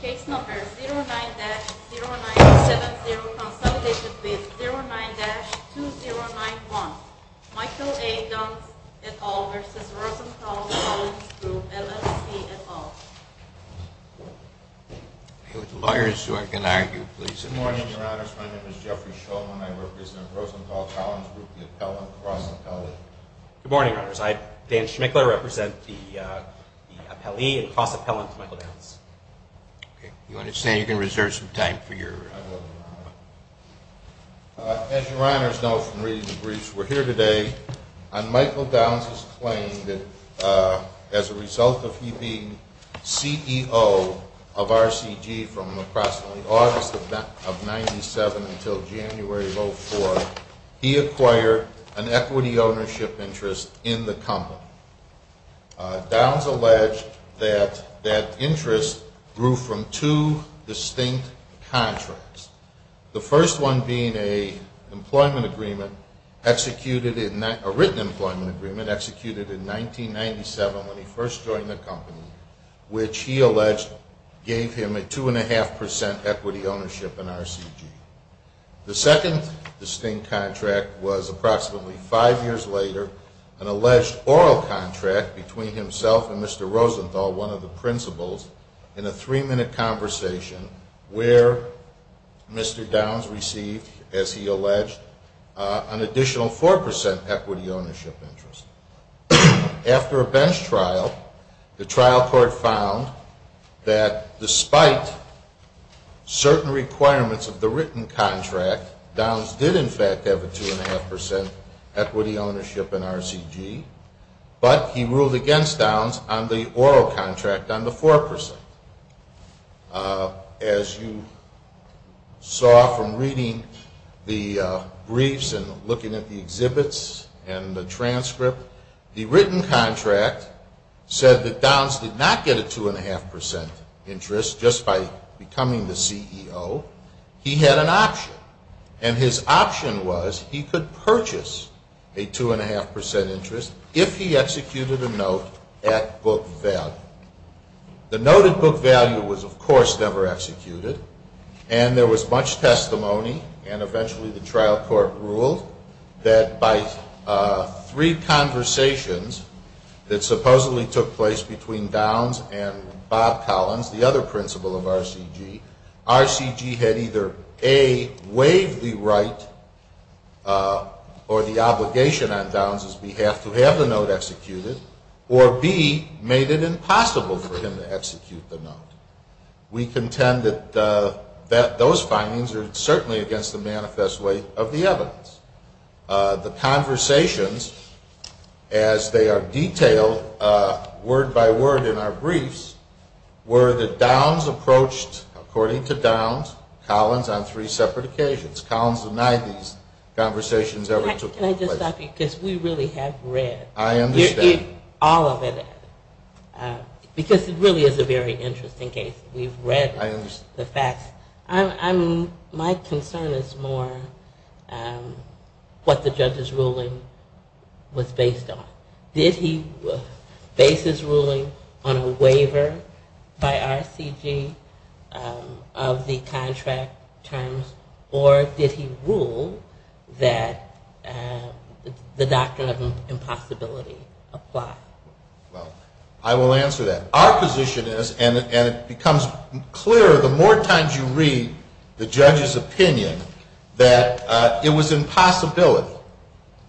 Case number 09-0970, consolidated bid 09-2091, Michael A. Downs et al. v. Rosenthal Collins Group, L.L.C. et al. With lawyers who can argue, please. Good morning, your honors. My name is Jeffrey Shulman. I represent Rosenthal Collins Group, the appellant, Ross Appelli. Good morning, your honors. I, Dan Schmickler, represent the appellee and cross-appellant, Michael Downs. You understand you can reserve some time for your... As your honors know from reading the briefs, we're here today on Michael Downs' claim that as a result of he being CEO of RCG from approximately August of 1997 until January of 2004, he acquired an equity ownership interest in the company. Downs alleged that that interest grew from two distinct contracts. The first one being a written employment agreement executed in 1997 when he first joined the company, which he alleged gave him a 2.5% equity ownership in RCG. The second distinct contract was approximately five years later, an alleged oral contract between himself and Mr. Rosenthal, one of the principals, in a three-minute conversation where Mr. Downs received, as he alleged, an additional 4% equity ownership interest. After a bench trial, the trial court found that despite certain requirements of the written contract, Downs did in fact have a 2.5% equity ownership in RCG, but he ruled against Downs on the oral contract on the 4%. As you saw from reading the briefs and looking at the exhibits and the transcript, the written contract said that Downs did not get a 2.5% interest just by becoming the CEO. He had an option, and his option was he could purchase a 2.5% interest if he executed a note at book value. The note at book value was, of course, never executed, and there was much testimony and eventually the trial court ruled that by three conversations that supposedly took place between Downs and Bob Collins, the other principal of RCG, RCG had either, A, waived the right or the obligation on Downs' behalf to have the note executed, or, B, made it impossible for him to execute the note. We contend that those findings are certainly against the manifest way of the evidence. The conversations, as they are detailed word by word in our briefs, were that Downs approached, according to Downs, Collins on three separate occasions. Collins denied these conversations ever took place. Can I just stop you, because we really have read all of it, because it really is a very interesting case. We've read the facts. My concern is more what the judge's ruling was based on. Did he base his ruling on a waiver by RCG of the contract terms, or did he rule that the doctrine of impossibility apply? Well, I will answer that. Our position is, and it becomes clearer the more times you read the judge's opinion, that it was impossibility.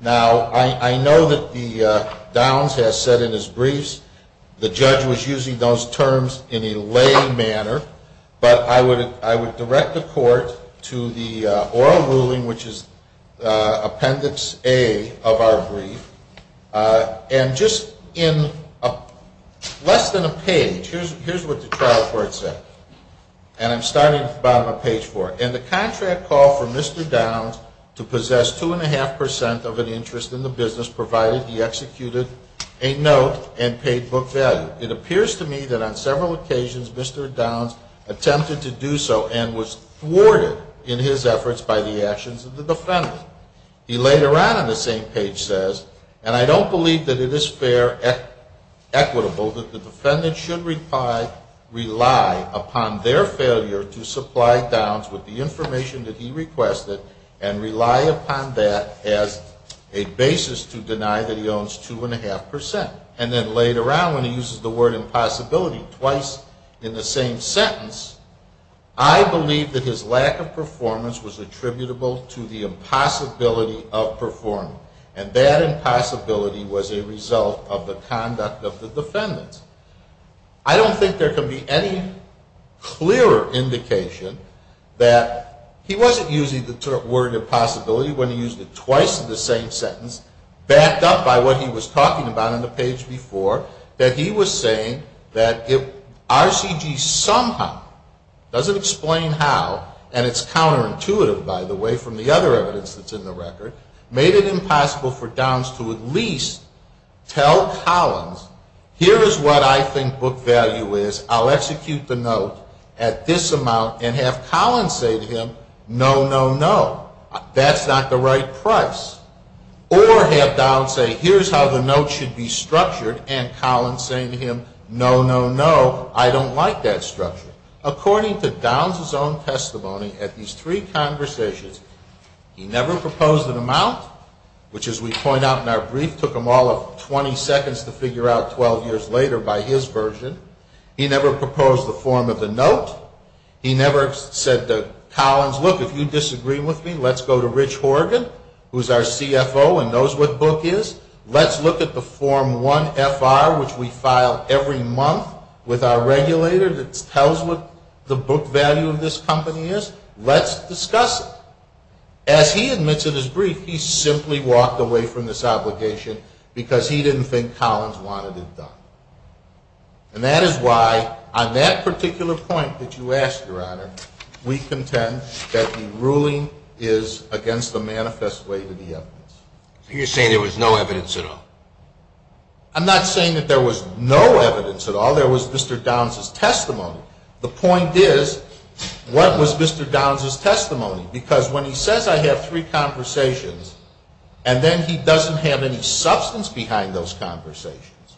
Now, I know that Downs has said in his briefs the judge was using those terms in a lay manner, but I would direct the court to the oral ruling, which is appendix A of our brief, and just in less than a page, here's what the trial court said, and I'm starting at the bottom of page four. And the contract called for Mr. Downs to possess two and a half percent of an interest in the business provided he executed a note and paid book value. It appears to me that on several occasions Mr. Downs attempted to do so and was thwarted in his efforts by the actions of the defendant. He later on in the same page says, and I don't believe that it is fair, equitable that the defendant should rely upon their failure to supply Downs with the information that he requested and rely upon that as a basis to deny that he owns two and a half percent. And then later on when he uses the word impossibility twice in the same sentence, I believe that his lack of performance was attributable to the impossibility of performance, and that impossibility was a result of the conduct of the defendant. I don't think there can be any clearer indication that he wasn't using the word impossibility when he used it twice in the same sentence, backed up by what he was talking about on the page before, that he was saying that if RCG somehow, doesn't explain how, and it's counterintuitive, by the way, from the other evidence that's in the record, made it impossible for Downs to at least tell Collins, here is what I think book value is, I'll execute the note at this amount and have Collins say to him, no, no, no. That's not the right price. Or have Downs say, here's how the note should be structured, and Collins saying to him, no, no, no, I don't like that structure. According to Downs' own testimony at these three conversations, he never proposed an amount, which as we point out in our brief took him all of 20 seconds to figure out 12 years later by his version. He never proposed the form of the note. He never said to Collins, look, if you disagree with me, let's go to Rich Horgan, who is our CFO and knows what book is. Let's look at the form 1FR, which we file every month with our regulator that tells what the book value of this company is. Let's discuss it. As he admits in his brief, he simply walked away from this obligation because he didn't think Collins wanted it done. And that is why on that particular point that you asked, Your Honor, we contend that the ruling is against the manifest way to the evidence. You're saying there was no evidence at all? I'm not saying that there was no evidence at all. There was Mr. Downs' testimony. The point is, what was Mr. Downs' testimony? Because when he says I have three conversations, and then he doesn't have any substance behind those conversations.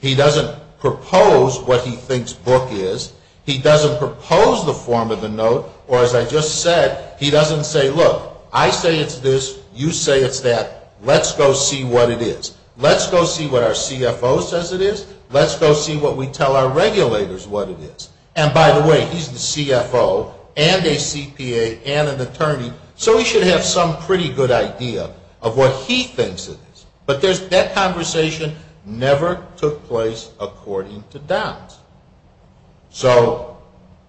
He doesn't propose what he thinks book is. He doesn't propose the form of the note, or as I just said, he doesn't say, look, I say it's this, you say it's that, let's go see what it is. Let's go see what our CFO says it is. Let's go see what we tell our regulators what it is. And by the way, he's the CFO and a CPA and an attorney, so he should have some pretty good idea of what he thinks it is. But that conversation never took place according to Downs. So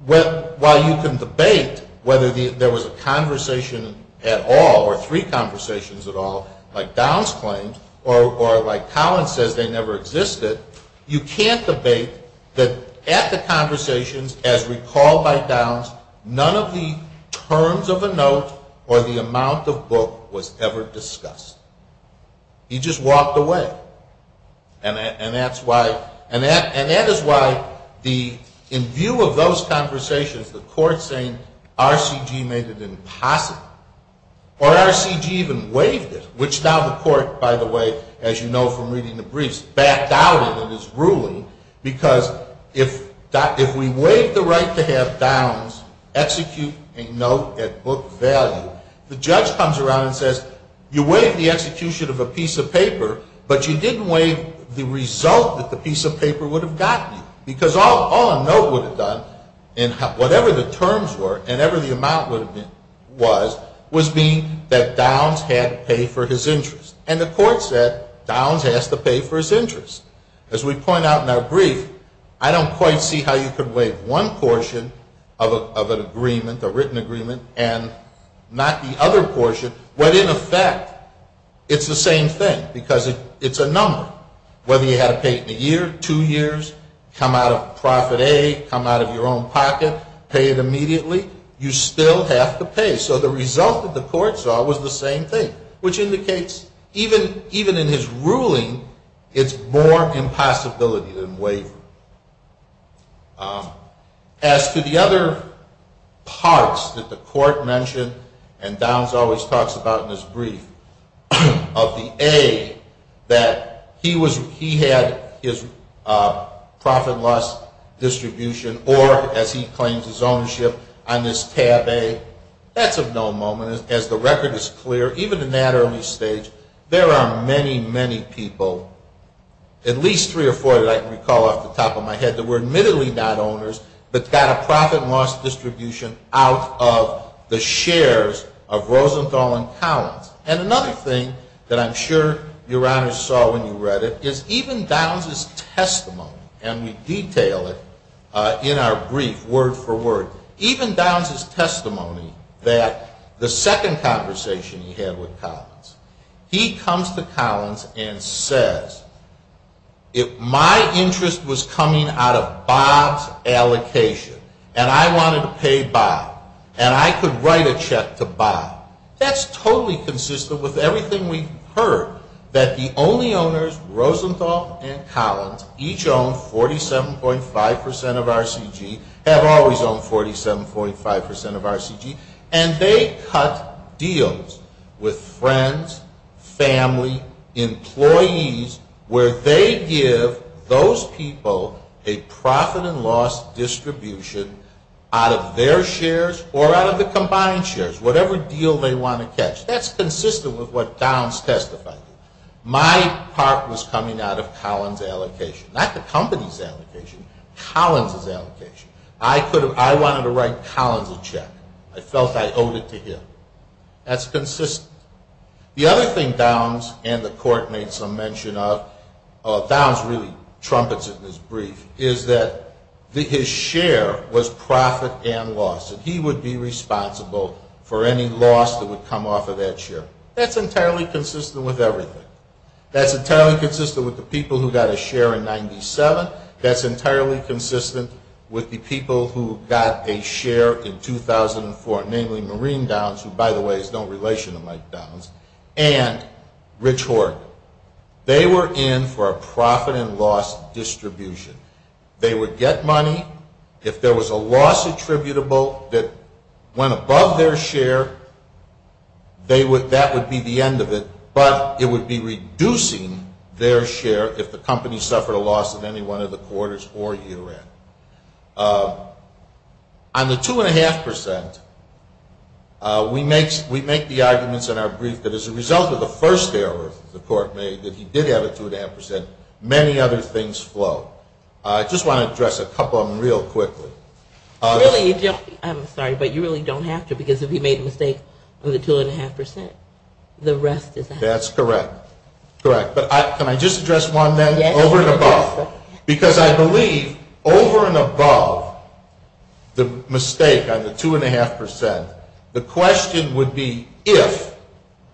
while you can debate whether there was a conversation at all, or three conversations at all, like Downs claimed, or like Collins says they never existed, you can't debate that at the conversations, as recalled by Downs, none of the terms of a note or the amount of book was ever discussed. He just walked away. And that is why in view of those conversations, the court saying RCG made it impossible, or RCG even waived it, which now the court, by the way, as you know from reading the briefs, backed out of its ruling, because if we waive the right to have Downs execute a note at book value, the judge comes around and says, you waived the execution of a piece of paper, but you didn't waive the result that the piece of paper would have gotten you. Because all a note would have done, whatever the terms were and whatever the amount was, was mean that Downs had to pay for his interest. And the court said Downs has to pay for his interest. As we point out in our brief, I don't quite see how you could waive one portion of an agreement, a written agreement, and not the other portion, when in effect it's the same thing, because it's a number. Whether you had to pay it in a year, two years, come out of profit A, come out of your own pocket, pay it immediately, you still have to pay. So the result that the court saw was the same thing, which indicates even in his ruling, it's more impossibility than waiver. As to the other parts that the court mentioned, and Downs always talks about in his brief, of the A, that he had his profit loss distribution or, as he claims, his ownership on this tab A, that's of no moment. And as the record is clear, even in that early stage, there are many, many people, at least three or four that I can recall off the top of my head, that were admittedly not owners but got a profit loss distribution out of the shares of Rosenthal and Collins. And another thing that I'm sure Your Honors saw when you read it is even Downs' testimony, and we detail it in our brief, word for word, even Downs' testimony that the second conversation he had with Collins, he comes to Collins and says, if my interest was coming out of Bob's allocation, and I wanted to pay Bob, and I could write a check to Bob, that's totally conceivable. That's consistent with everything we've heard, that the only owners, Rosenthal and Collins, each own 47.5% of RCG, have always owned 47.5% of RCG, and they cut deals with friends, family, employees, where they give those people a profit and loss distribution out of their shares or out of the combined shares, whatever deal they want to catch. That's consistent with what Downs testified. My part was coming out of Collins' allocation, not the company's allocation, Collins' allocation. I wanted to write Collins a check. I felt I owed it to him. That's consistent. The other thing Downs and the Court made some mention of, Downs really trumpets it in his brief, is that his share was profit and loss, and he would be responsible for any loss that would come off of that share. That's entirely consistent with everything. That's entirely consistent with the people who got a share in 97. That's entirely consistent with the people who got a share in 2004, namely Maureen Downs, who, by the way, has no relation to Mike Downs, and Rich Horton. They were in for a profit and loss distribution. They would get money. If there was a loss attributable that went above their share, that would be the end of it, but it would be reducing their share if the company suffered a loss in any one of the quarters or year-end. On the two-and-a-half percent, we make the arguments in our brief that as a result of the first error the Court made, that he did have a two-and-a-half percent, many other things flow. I just want to address a couple of them real quickly. I'm sorry, but you really don't have to, because if he made a mistake on the two-and-a-half percent, the rest is out. Correct. But can I just address one then? Over and above. Because I believe over and above the mistake on the two-and-a-half percent, the question would be if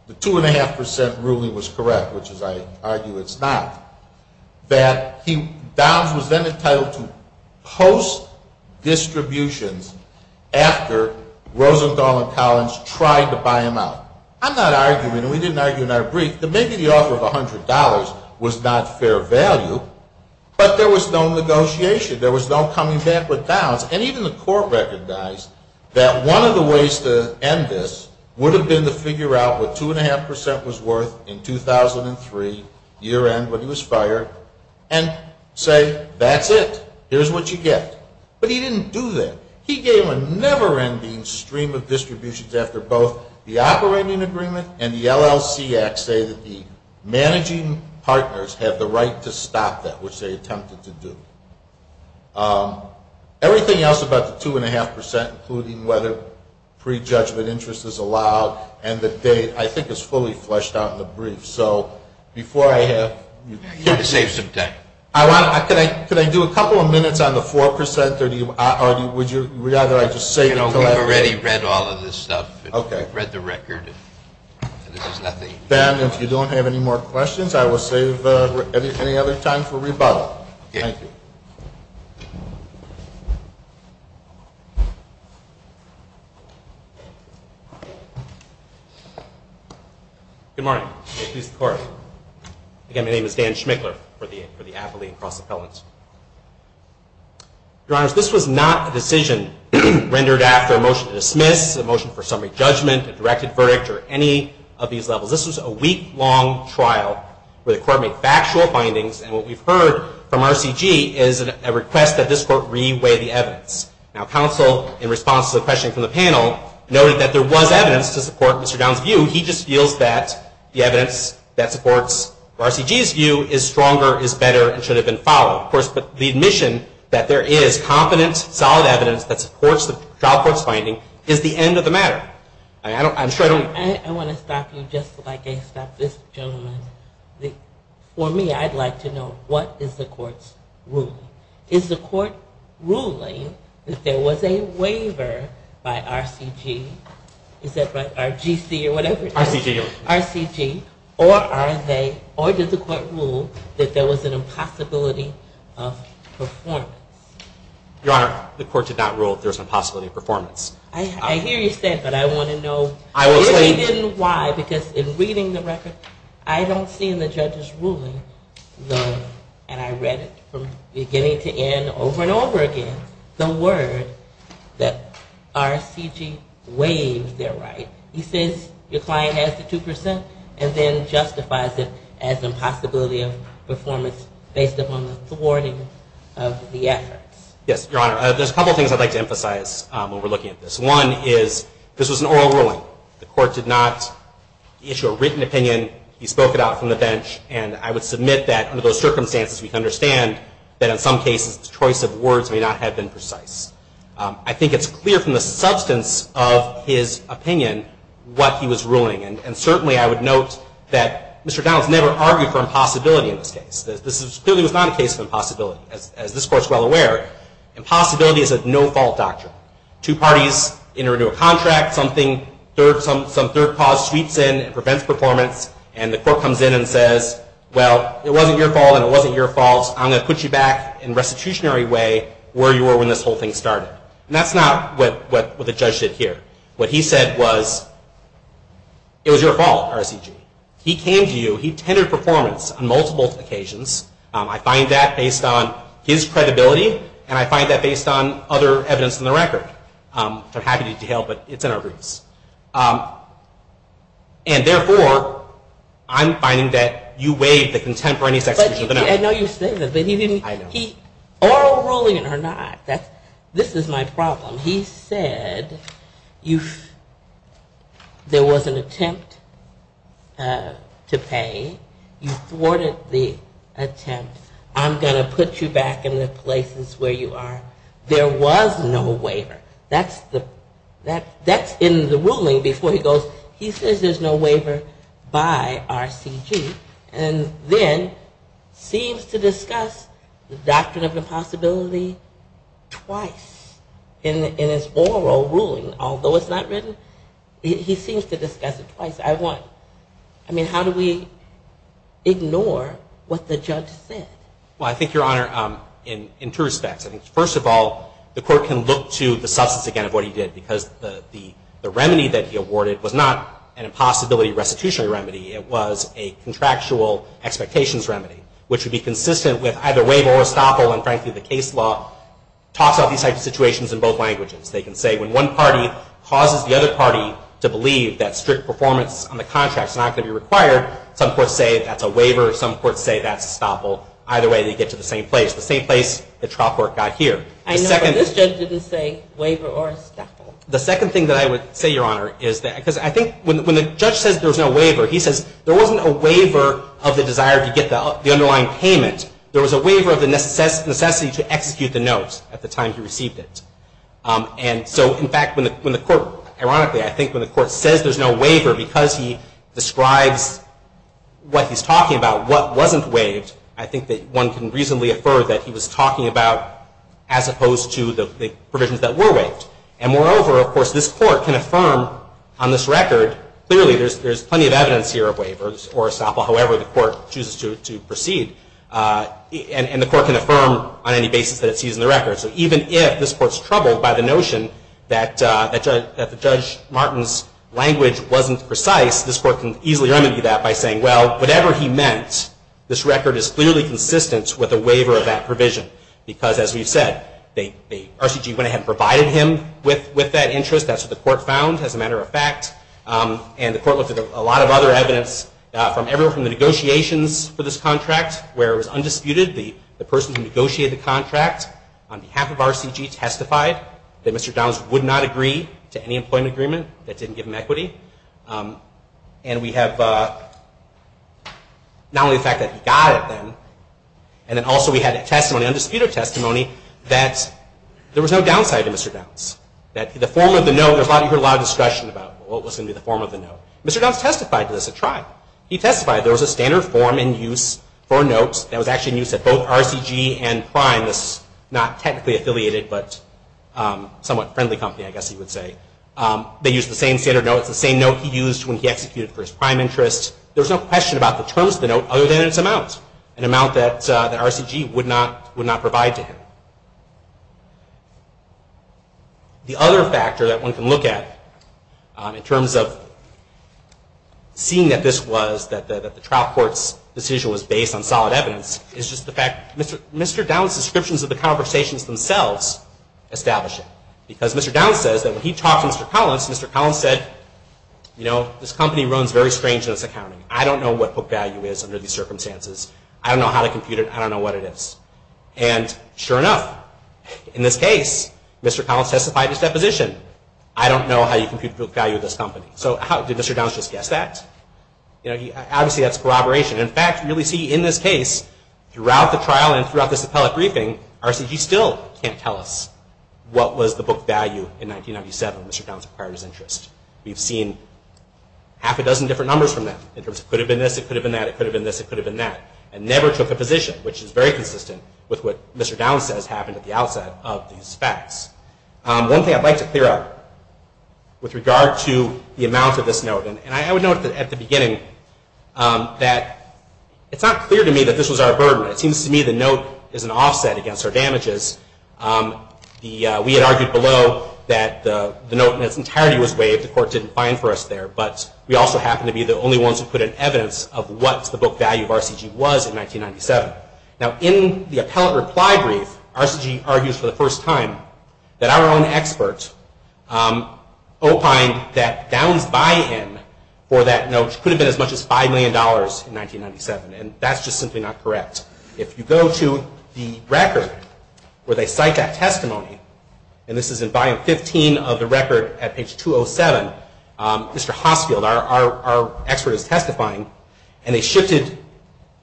the two-and-a-half percent ruling was correct, which as I argue it's not, that Downs was then entitled to post-distributions after Rosenthal and Collins tried to buy him out. I'm not arguing, and we didn't argue in our brief, that maybe the offer of $100 was not fair value, but there was no negotiation. There was no coming back with Downs. And even the Court recognized that one of the ways to end this would have been to figure out what two-and-a-half percent was worth in 2003, year-end when he was fired, and say, that's it. Here's what you get. But he didn't do that. He gave a never-ending stream of distributions after both the Operating Agreement and the LLC Act say that the managing partners have the right to stop that, which they attempted to do. Everything else about the two-and-a-half percent, including whether prejudgment interest is allowed, and the date, I think is fully fleshed out in the brief. So before I have... You know, we've already read all of this stuff. We've read the record, and there's nothing... Then, if you don't have any more questions, I will save any other time for rebuttal. Thank you. Good morning. May it please the Court. Again, my name is Dan Schmickler for the Appellee and Cross-Appellants. Your Honors, this was not a decision rendered after a motion to dismiss, a motion for summary judgment, a directed verdict, or any of these levels. This was a week-long trial where the Court made factual findings, and what we've heard from RCG is a request that this Court re-weigh the evidence. Now, counsel, in response to the question from the panel, noted that there was evidence to support Mr. Downs' view. He just feels that the evidence that supports RCG's view is stronger, is better, and should have been followed. Of course, but the admission that there is competent, solid evidence that supports the trial court's finding is the end of the matter. I'm sure I don't... Your Honor, I want to stop you just like I stopped this gentleman. For me, I'd like to know, what is the Court's ruling? Is the Court ruling that there was a waiver by RCG, or GC or whatever it is, RCG, or are they, or did the Court rule that there was an impossibility of performance? Your Honor, the Court did not rule that there was an impossibility of performance. I hear you say it, but I want to know why, because in reading the record, I don't see in the judge's ruling, and I read it from beginning to end, over and over again, the word that RCG waived their right. He says your client has the 2%, and then justifies it as an impossibility of performance based upon the thwarting of the effort. Yes, Your Honor, there's a couple of things I'd like to emphasize when we're looking at this. One is, this was an oral ruling. The Court did not issue a written opinion. He spoke it out from the bench, and I would submit that under those circumstances, we can understand that in some cases, the choice of words may not have been precise. I think it's clear from the substance of his opinion what he was ruling, and certainly I would note that Mr. Donaldson never argued for impossibility in this case. This clearly was not a case of impossibility, as this Court is well aware. Impossibility is a no-fault doctrine. Two parties enter into a contract, some third cause sweeps in and prevents performance, and the Court comes in and says, well, it wasn't your fault, and it wasn't your fault. I'm going to put you back in a restitutionary way where you were when this whole thing started. And that's not what the judge did here. What he said was, it was your fault, RCG. He came to you. He tendered performance on multiple occasions. I find that based on his credibility, and I find that based on other evidence in the record. I'm happy to detail, but it's in our briefs. And therefore, I'm finding that you waived the contemporaneous execution of the matter. I know you say that, but oral ruling or not, this is my problem. He said there was an attempt to pay. You thwarted the attempt. I'm going to put you back in the places where you are. There was no waiver. That's in the ruling before he goes, he says there's no waiver by RCG. And then seems to discuss the doctrine of impossibility twice in his oral ruling. Although it's not written, he seems to discuss it twice. I mean, how do we ignore what the judge said? Well, I think, Your Honor, in two respects. I think, first of all, the court can look to the substance again of what he did, because the remedy that he awarded was not an impossibility restitutionary remedy. It was a contractual expectations remedy, which would be consistent with either waiver or estoppel. And frankly, the case law talks about these types of situations in both languages. They can say when one party causes the other party to believe that strict performance on the contract is not going to be required, some courts say that's a waiver. Some courts say that's estoppel. Either way, they get to the same place, the same place the trial court got here. I know, but this judge didn't say waiver or estoppel. The second thing that I would say, Your Honor, is that because I think when the judge says there was no waiver, he says there wasn't a waiver of the desire to get the underlying payment. There was a waiver of the necessity to execute the note at the time he received it. And so in fact, when the court, ironically, I think when the court says there's no waiver because he describes what he's talking about, what wasn't waived, I think that one can reasonably infer that he was talking about as opposed to the provisions that were waived. And moreover, of course, this court can affirm on this record, clearly there's plenty of evidence here of waivers or estoppel, however the court chooses to proceed. And the court can affirm on any basis that it sees in the record. So even if this court's troubled by the notion that the Judge Martin's language wasn't precise, this court can easily remedy that by saying, well, whatever he meant, this record is clearly consistent with a waiver of that provision. Because as we've said, the RCG went ahead and provided him with that interest. That's what the court found, as a matter of fact. And the court looked at a lot of other evidence from the negotiations for this contract, where it was undisputed. The person who negotiated the contract on behalf of RCG testified that Mr. Downs would not agree to any employment agreement that didn't give him equity. And we have not only the fact that he got it then, and then also we had a testimony, undisputed testimony, that there was no downside to Mr. Downs. That the form of the note, you heard a lot of discussion about what was going to be the form of the note. Mr. Downs testified to this, he tried. He testified there was a standard form in use for notes that was actually in use at both RCG and Prime, this not technically affiliated but somewhat friendly company, I guess you would say. They used the same standard notes, the same note he used when he executed for his prime interest. There's no question about the terms of the note, other than its amount, an amount that the RCG would not provide to him. The other factor that one can look at, in terms of seeing that this was, that the trial court's decision was based on solid evidence, is just the fact that Mr. Downs' descriptions of the conversations themselves establish it. Because Mr. Downs says that when he talked to Mr. Collins, Mr. Collins said, you know, this company runs very strange in its accounting. I don't know what book value is under these circumstances. I don't know how to compute it, I don't know what it is. And sure enough, in this case, Mr. Collins testified his deposition. I don't know how you compute book value of this company. So how, did Mr. Downs just guess that? You know, obviously that's corroboration. In fact, really see in this case, throughout the trial and throughout this appellate briefing, RCG still can't tell us what was the book value in 1997, Mr. Downs acquired his interest. We've seen half a dozen different numbers from that, in terms of could have been this, it could have been that, it could have been this, it could have been that. And never took a position, which is very consistent with what Mr. Downs says happened at the outset of these facts. One thing I'd like to clear up, with regard to the amount of this note, and I would note at the beginning, that it's not clear to me that this was our burden. It seems to me the note is an offset against our damages. We had argued below that the note in its entirety was waived, the court didn't find for us there. But we also happen to be the only ones who put in evidence of what the book value of RCG was in 1997. Now, in the appellate reply brief, RCG argues for the first time that our own expert opined that Downs' buy-in for that note could have been as much as $5 million in 1997. And that's just simply not correct. If you go to the record, where they cite that testimony, and this is in buy-in 15 of the record at page 207, Mr. Hossfield, our expert is testifying. And they shifted,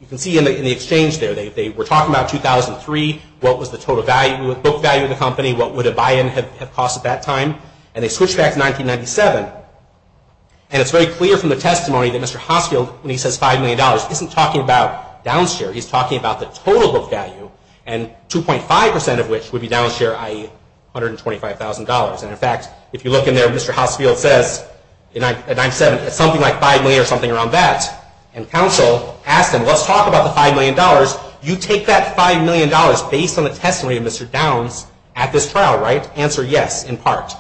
you can see in the exchange there, they were talking about 2003, what was the total value, book value of the company, what would a buy-in have cost at that time. And they switched back to 1997. And it's very clear from the testimony that Mr. Hossfield, when he says $5 million, isn't talking about Downs' share. He's talking about the total book value, and 2.5% of which would be Downs' share, i.e., $125,000. And in fact, if you look in there, Mr. Hossfield says, in 1997, it's something like $5 million or something around that. And counsel asked him, let's talk about the $5 million. You take that $5 million based on the testimony of Mr. Downs at this trial, right, answer yes in part.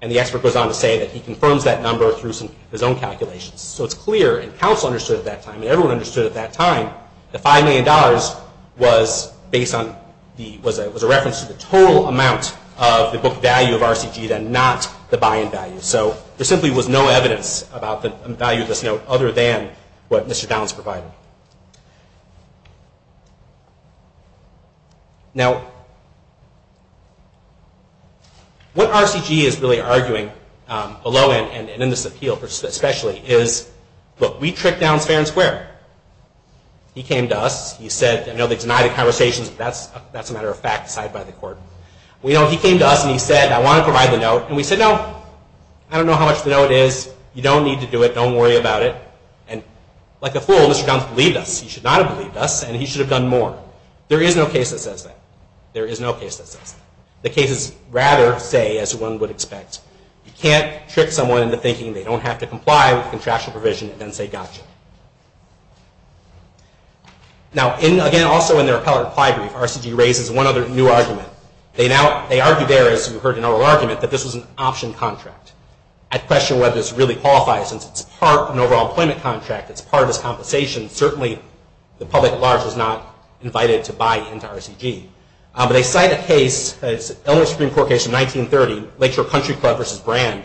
And the expert goes on to say that he confirms that number through his own calculations. So it's clear, and counsel understood at that time, and everyone understood at that time, the $5 million was based on, was a reference to the total amount of the book value of RCG, then not the buy-in value. So there simply was no evidence about the value of this note other than what Mr. Downs provided. Now, what RCG is really arguing, below and in this appeal especially, is, look, we tricked Downs fair and square. He came to us, he said, I know they denied the conversations, but that's a matter of fact, decided by the court. He came to us and he said, I want to provide the note, and we said, no, I don't know how much the note is. You don't need to do it. Don't worry about it. And like a fool, Mr. Downs believed us. He should not have believed us, and he should have done more. There is no case that says that. There is no case that says that. The cases rather say, as one would expect, you can't trick someone into thinking they don't have to comply with contractual provision and then say, gotcha. Now, again, also in their appellate reply brief, RCG raises one other new argument. They now, they argue there, as you heard in our argument, that this was an option contract. I question whether this really qualifies, since it's part of an overall employment contract. It's part of this compensation. Certainly, the public at large is not invited to buy into RCG. But they cite a case, it's an Illinois Supreme Court case from 1930, Lakeshore Country Club versus Brand,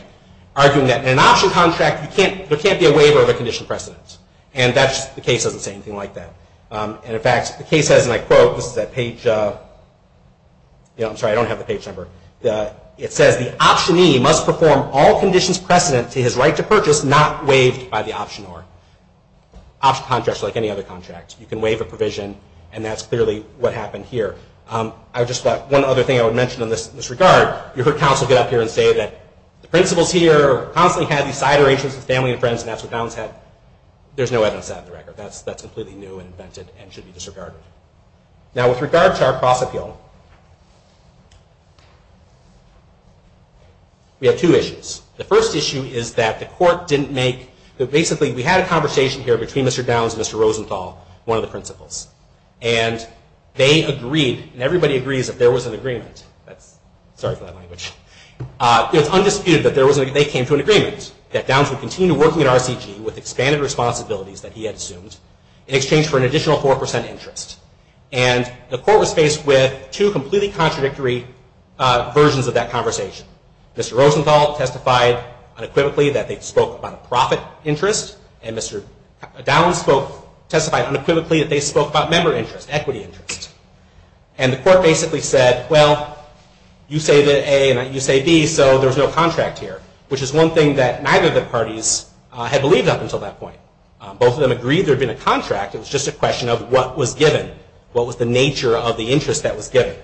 arguing that in an option contract, there can't be a waiver of a condition precedent. And the case doesn't say anything like that. And in fact, the case says, and I quote, this is that page, I'm sorry, I don't have the page number. It says, the optionee must perform all conditions precedent to his right to purchase not waived by the optionor. Option contracts are like any other contract. You can waive a provision. And that's clearly what happened here. I just thought one other thing I would mention in this regard, you heard counsel get up here and say that the principals here constantly had these side arrangements with family and friends and that's what Downs had. There's no evidence of that in the record. That's completely new and invented and should be disregarded. Now with regard to our cross appeal, we have two issues. The first issue is that the court didn't make, basically we had a conversation here between Mr. Downs and Mr. Rosenthal, one of the principals. And they agreed, and everybody agrees that there was an agreement, sorry for that language, it's undisputed that they came to an agreement that Downs would continue working at RCG with expanded responsibilities that he had assumed in exchange for an additional 4% interest. And the court was faced with two completely contradictory versions of that conversation. Mr. Rosenthal testified unequivocally that they spoke about a profit interest and Mr. Downs testified unequivocally that they spoke about member interest, equity interest. And the court basically said, well, you say that A and you say B, so there's no contract here, which is one thing that neither of the parties had believed up until that point. Both of them agreed there had been a contract. It was just a question of what was given, what was the nature of the interest that was given.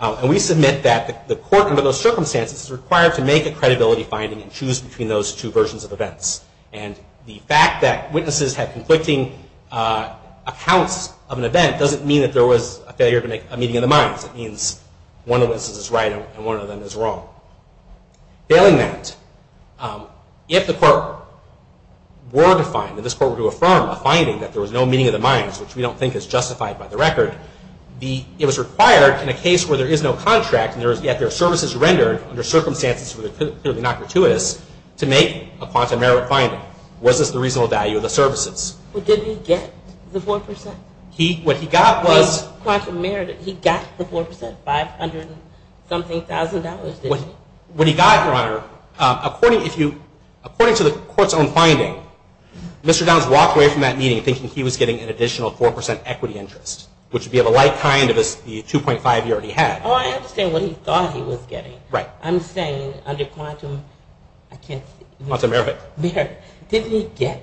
And we submit that the court under those circumstances is required to make a credibility finding and choose between those two versions of events. And the fact that witnesses had conflicting accounts of an event doesn't mean that there was a failure to make a meeting of the minds. It means one of the witnesses is right and one of them is wrong. Failing that, if the court were to find, if this court were to affirm a finding that there was no meeting of the minds, which we don't think is justified by the record, it was required in a case where there is no contract and yet there are services rendered under circumstances that are clearly not gratuitous to make a quantum merit finding. Was this the reasonable value of the services? Well, did he get the 4%? He, what he got was... Quantum merit, he got the 4%, five hundred and something thousand dollars. What he got, Your Honor, according to the court's own finding, Mr. Downs walked away from that meeting thinking he was getting an additional 4% equity interest, which would be of a like kind as the 2.5 he already had. Oh, I understand what he thought he was getting. Right. I'm saying under quantum, I can't... Quantum merit. Merit. Didn't he get,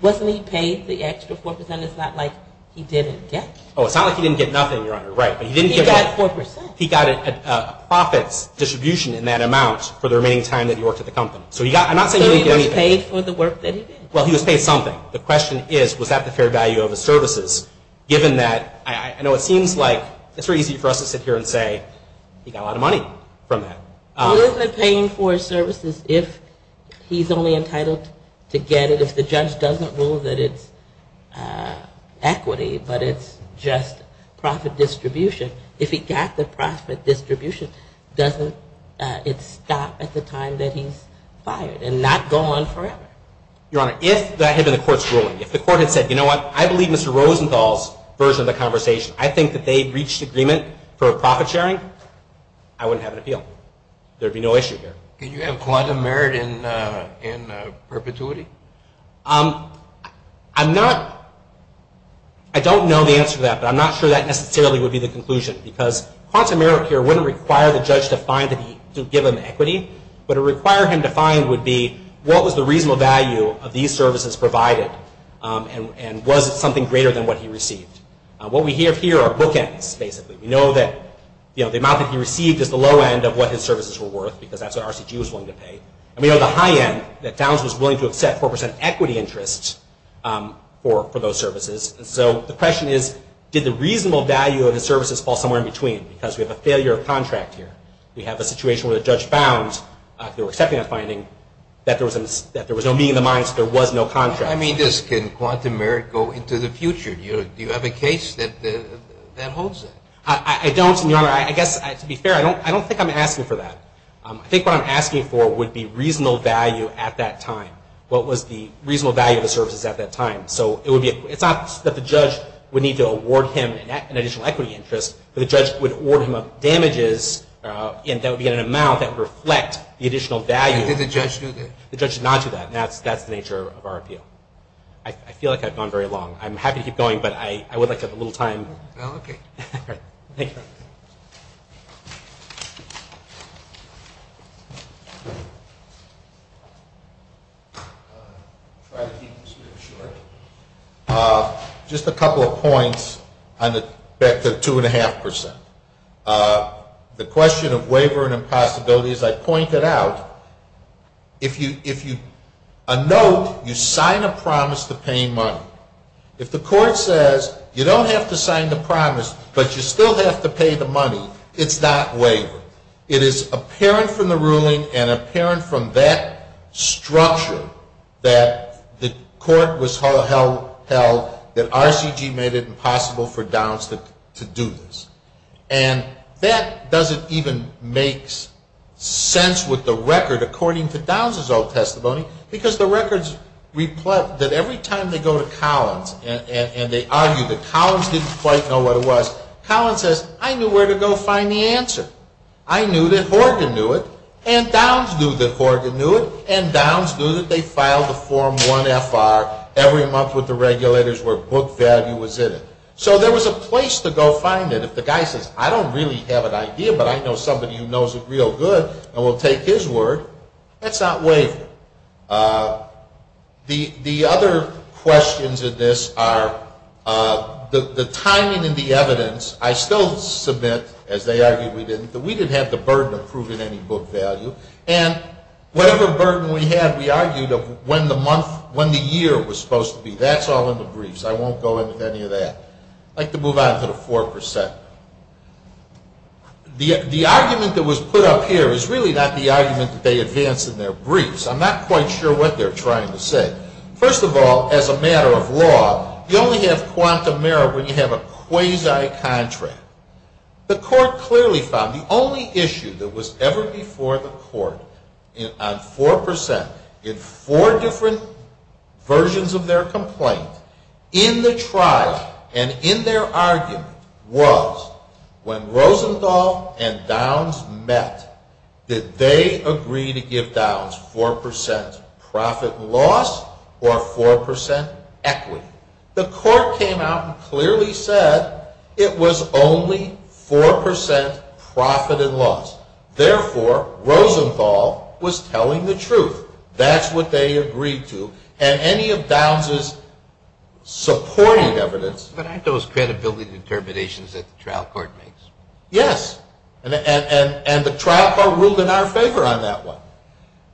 wasn't he paid the extra 4%? It's not like he didn't get. Oh, it's not like he didn't get nothing, Your Honor. Right. He got 4%. He got a profits distribution in that amount for the remaining time that he worked at the company. So he got, I'm not saying he didn't get anything. So he was paid for the work that he did? Well, he was paid something. The question is, was that the fair value of the services? Given that, I know it seems like it's very easy for us to sit here and say, he got a lot of money from that. Well, isn't it paying for services if he's only entitled to get it if the judge doesn't rule that it's equity, but it's just profit distribution? If he got the profit distribution, doesn't it stop at the time that he's fired and not go on forever? Your Honor, if that had been the court's ruling, if the court had said, you know what? I believe Mr. Rosenthal's version of the conversation. I think that they reached agreement for profit sharing. I wouldn't have an appeal. There'd be no issue here. Can you have quantum merit in perpetuity? I'm not... Because quantum merit here wouldn't require the judge to give him equity. What it would require him to find would be, what was the reasonable value of these services provided? And was it something greater than what he received? What we have here are bookends, basically. We know that the amount that he received is the low end of what his services were worth, because that's what RCG was willing to pay. And we know the high end, that Downs was willing to accept 4% equity interest for those services. So the question is, did the reasonable value of the services fall somewhere in between? Because we have a failure of contract here. We have a situation where the judge found, through accepting that finding, that there was no meeting of the minds. There was no contract. I mean, can quantum merit go into the future? Do you have a case that holds that? I don't, Your Honor. I guess, to be fair, I don't think I'm asking for that. I think what I'm asking for would be reasonable value at that time. What was the reasonable value of the services at that time? It's not that the judge would need to award him an additional equity interest, but the judge would award him damages that would be in an amount that would reflect the additional value. And did the judge do that? The judge did not do that. That's the nature of our appeal. I feel like I've gone very long. I'm happy to keep going, but I would like to have a little time. Okay. Thank you. I'll try to keep this brief short. Just a couple of points back to the 2.5%. The question of waiver and impossibility, as I pointed out, a note, you sign a promise to pay money. If the court says, you don't have to sign the promise, but you still have to pay the money, it's not waiver. It is apparent from the ruling and apparent from that structure that the court was held that RCG made it impossible for Downs to do this. And that doesn't even make sense with the record according to Downs' old testimony because the records reflect that every time they go to Collins and they argue that Collins didn't quite know what it was, Collins says, I knew where to go find the answer. I knew that Horgan knew it, and Downs knew that Horgan knew it, and Downs knew that they filed a Form 1FR every month with the regulators where book value was in it. So there was a place to go find it. If the guy says, I don't really have an idea, but I know somebody who knows it real good and will take his word, that's not waiver. The other questions in this are the timing and the evidence. I still submit, as they argued we didn't, that we didn't have the burden of proving any book value. And whatever burden we had, we argued of when the month, when the year was supposed to be. That's all in the briefs. I won't go into any of that. I'd like to move on to the 4%. The argument that was put up here is really not the argument that they advanced in their briefs. I'm not quite sure what they're trying to say. First of all, as a matter of law, you only have quantum error when you have a quasi contract. The court clearly found the only issue that was ever before the court on 4%, in four different versions of their complaint, in the trial and in their argument, was when Rosenthal and Downs met, did they agree to give Downs 4% profit and loss or 4% equity? The court came out and clearly said it was only 4% profit and loss. Therefore, Rosenthal was telling the truth. That's what they agreed to. And any of Downs' supporting evidence... But aren't those credibility determinations that the trial court makes? Yes. And the trial court ruled in our favor on that one.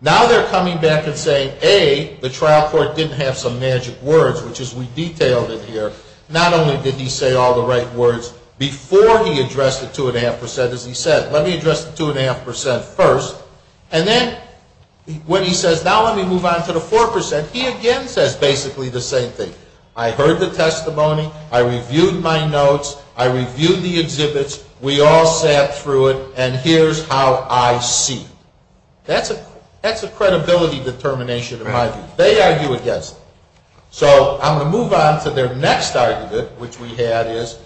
Now they're coming back and saying, A, the trial court didn't have some magic words, which is we detailed it here. Not only did he say all the right words before he addressed the 2.5%, as he said. Let me address the 2.5% first. And then, when he says, now let me move on to the 4%, he again says basically the same thing. I heard the testimony. I reviewed my notes. I reviewed the exhibits. We all sat through it. And here's how I see. That's a credibility determination in my view. They argue against it. So I'm going to move on to their next argument, which we had is,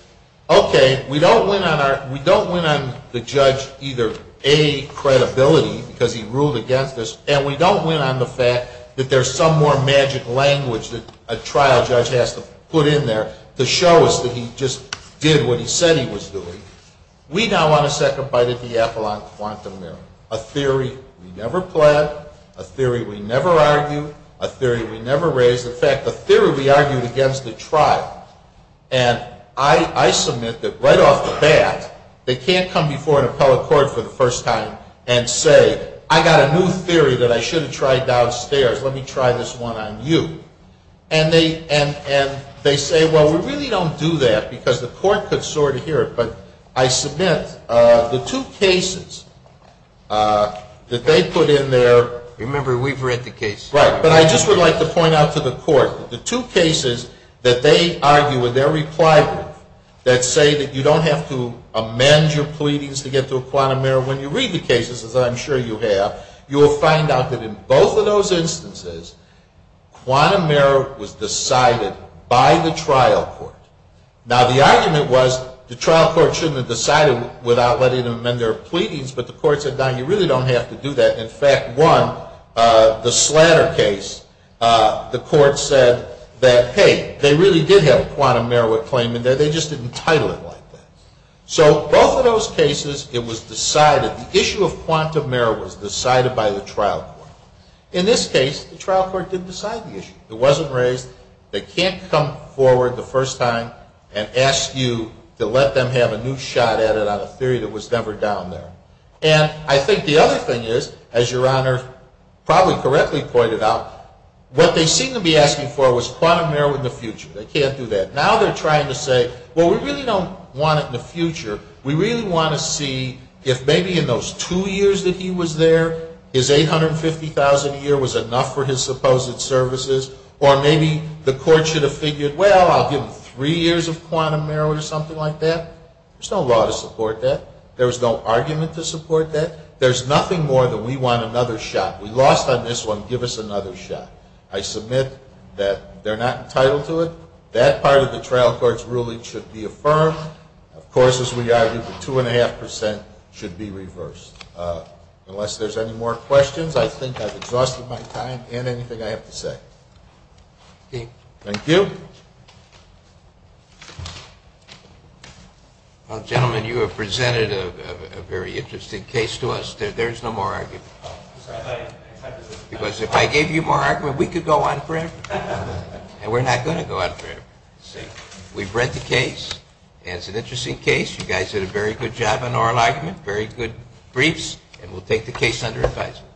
okay, we don't win on the judge either A, credibility, because he ruled against this, and we don't win on the fact that there's some more magic language that a trial judge has to put in there to show us that he just did what he said he was doing. We now want to sacrifice the Diaphagon Quantum Theory, a theory we never planned, a theory we never argued, a theory we never raised. In fact, a theory we argued against the trial. And I submit that right off the bat, they can't come before an appellate court for the first time and say, I got a new theory that I should have tried downstairs. Let me try this one on you. And they say, well, we really don't do that because the court could sort of hear it. But I submit, the two cases that they put in there... Remember, we've read the case. Right, but I just would like to point out to the court that the two cases that they argue in their reply brief that say that you don't have to amend your pleadings to get to a quantum error when you read the cases, as I'm sure you have, you'll find out that in both of those instances quantum error was decided by the trial court. Now, the argument was the trial court shouldn't have decided without letting them amend their pleadings but the court said, no, you really don't have to do that. In fact, one, the Slatter case, the court said that, hey, they really did have a quantum error claim in there, they just didn't title it like that. So, both of those cases, it was decided, the issue of quantum error was decided by the trial court. In this case, the trial court didn't decide the issue. It wasn't raised. They can't come forward the first time and ask you to let them have a new shot at it on a theory that was never down there. And I think the other thing is, as Your Honor probably correctly pointed out, what they seem to be asking for was quantum error in the future. They can't do that. Now they're trying to say, well, we really don't want it in the future. We really want to see if maybe in those two years that he was there, his $850,000 a year was enough for his supposed services or maybe the court should have figured, well, I'll give him three years of quantum error or something like that. There's no law to support that. There's no argument to support that. There's nothing more than we want another shot. We lost on this one, give us another shot. I submit that they're not entitled to it. That part of the trial court's ruling should be affirmed. Of course, as we argued, the 2.5% should be reversed. Unless there's any more questions, I think I've exhausted my time and anything I have to say. Thank you. Gentlemen, you have presented a very interesting case to us. There's no more argument. Because if I gave you more argument, we could go on forever. And we're not going to go on forever. We've read the case and it's an interesting case. You guys did a very good job on oral argument. Very good briefs. And we'll take the case under advisement.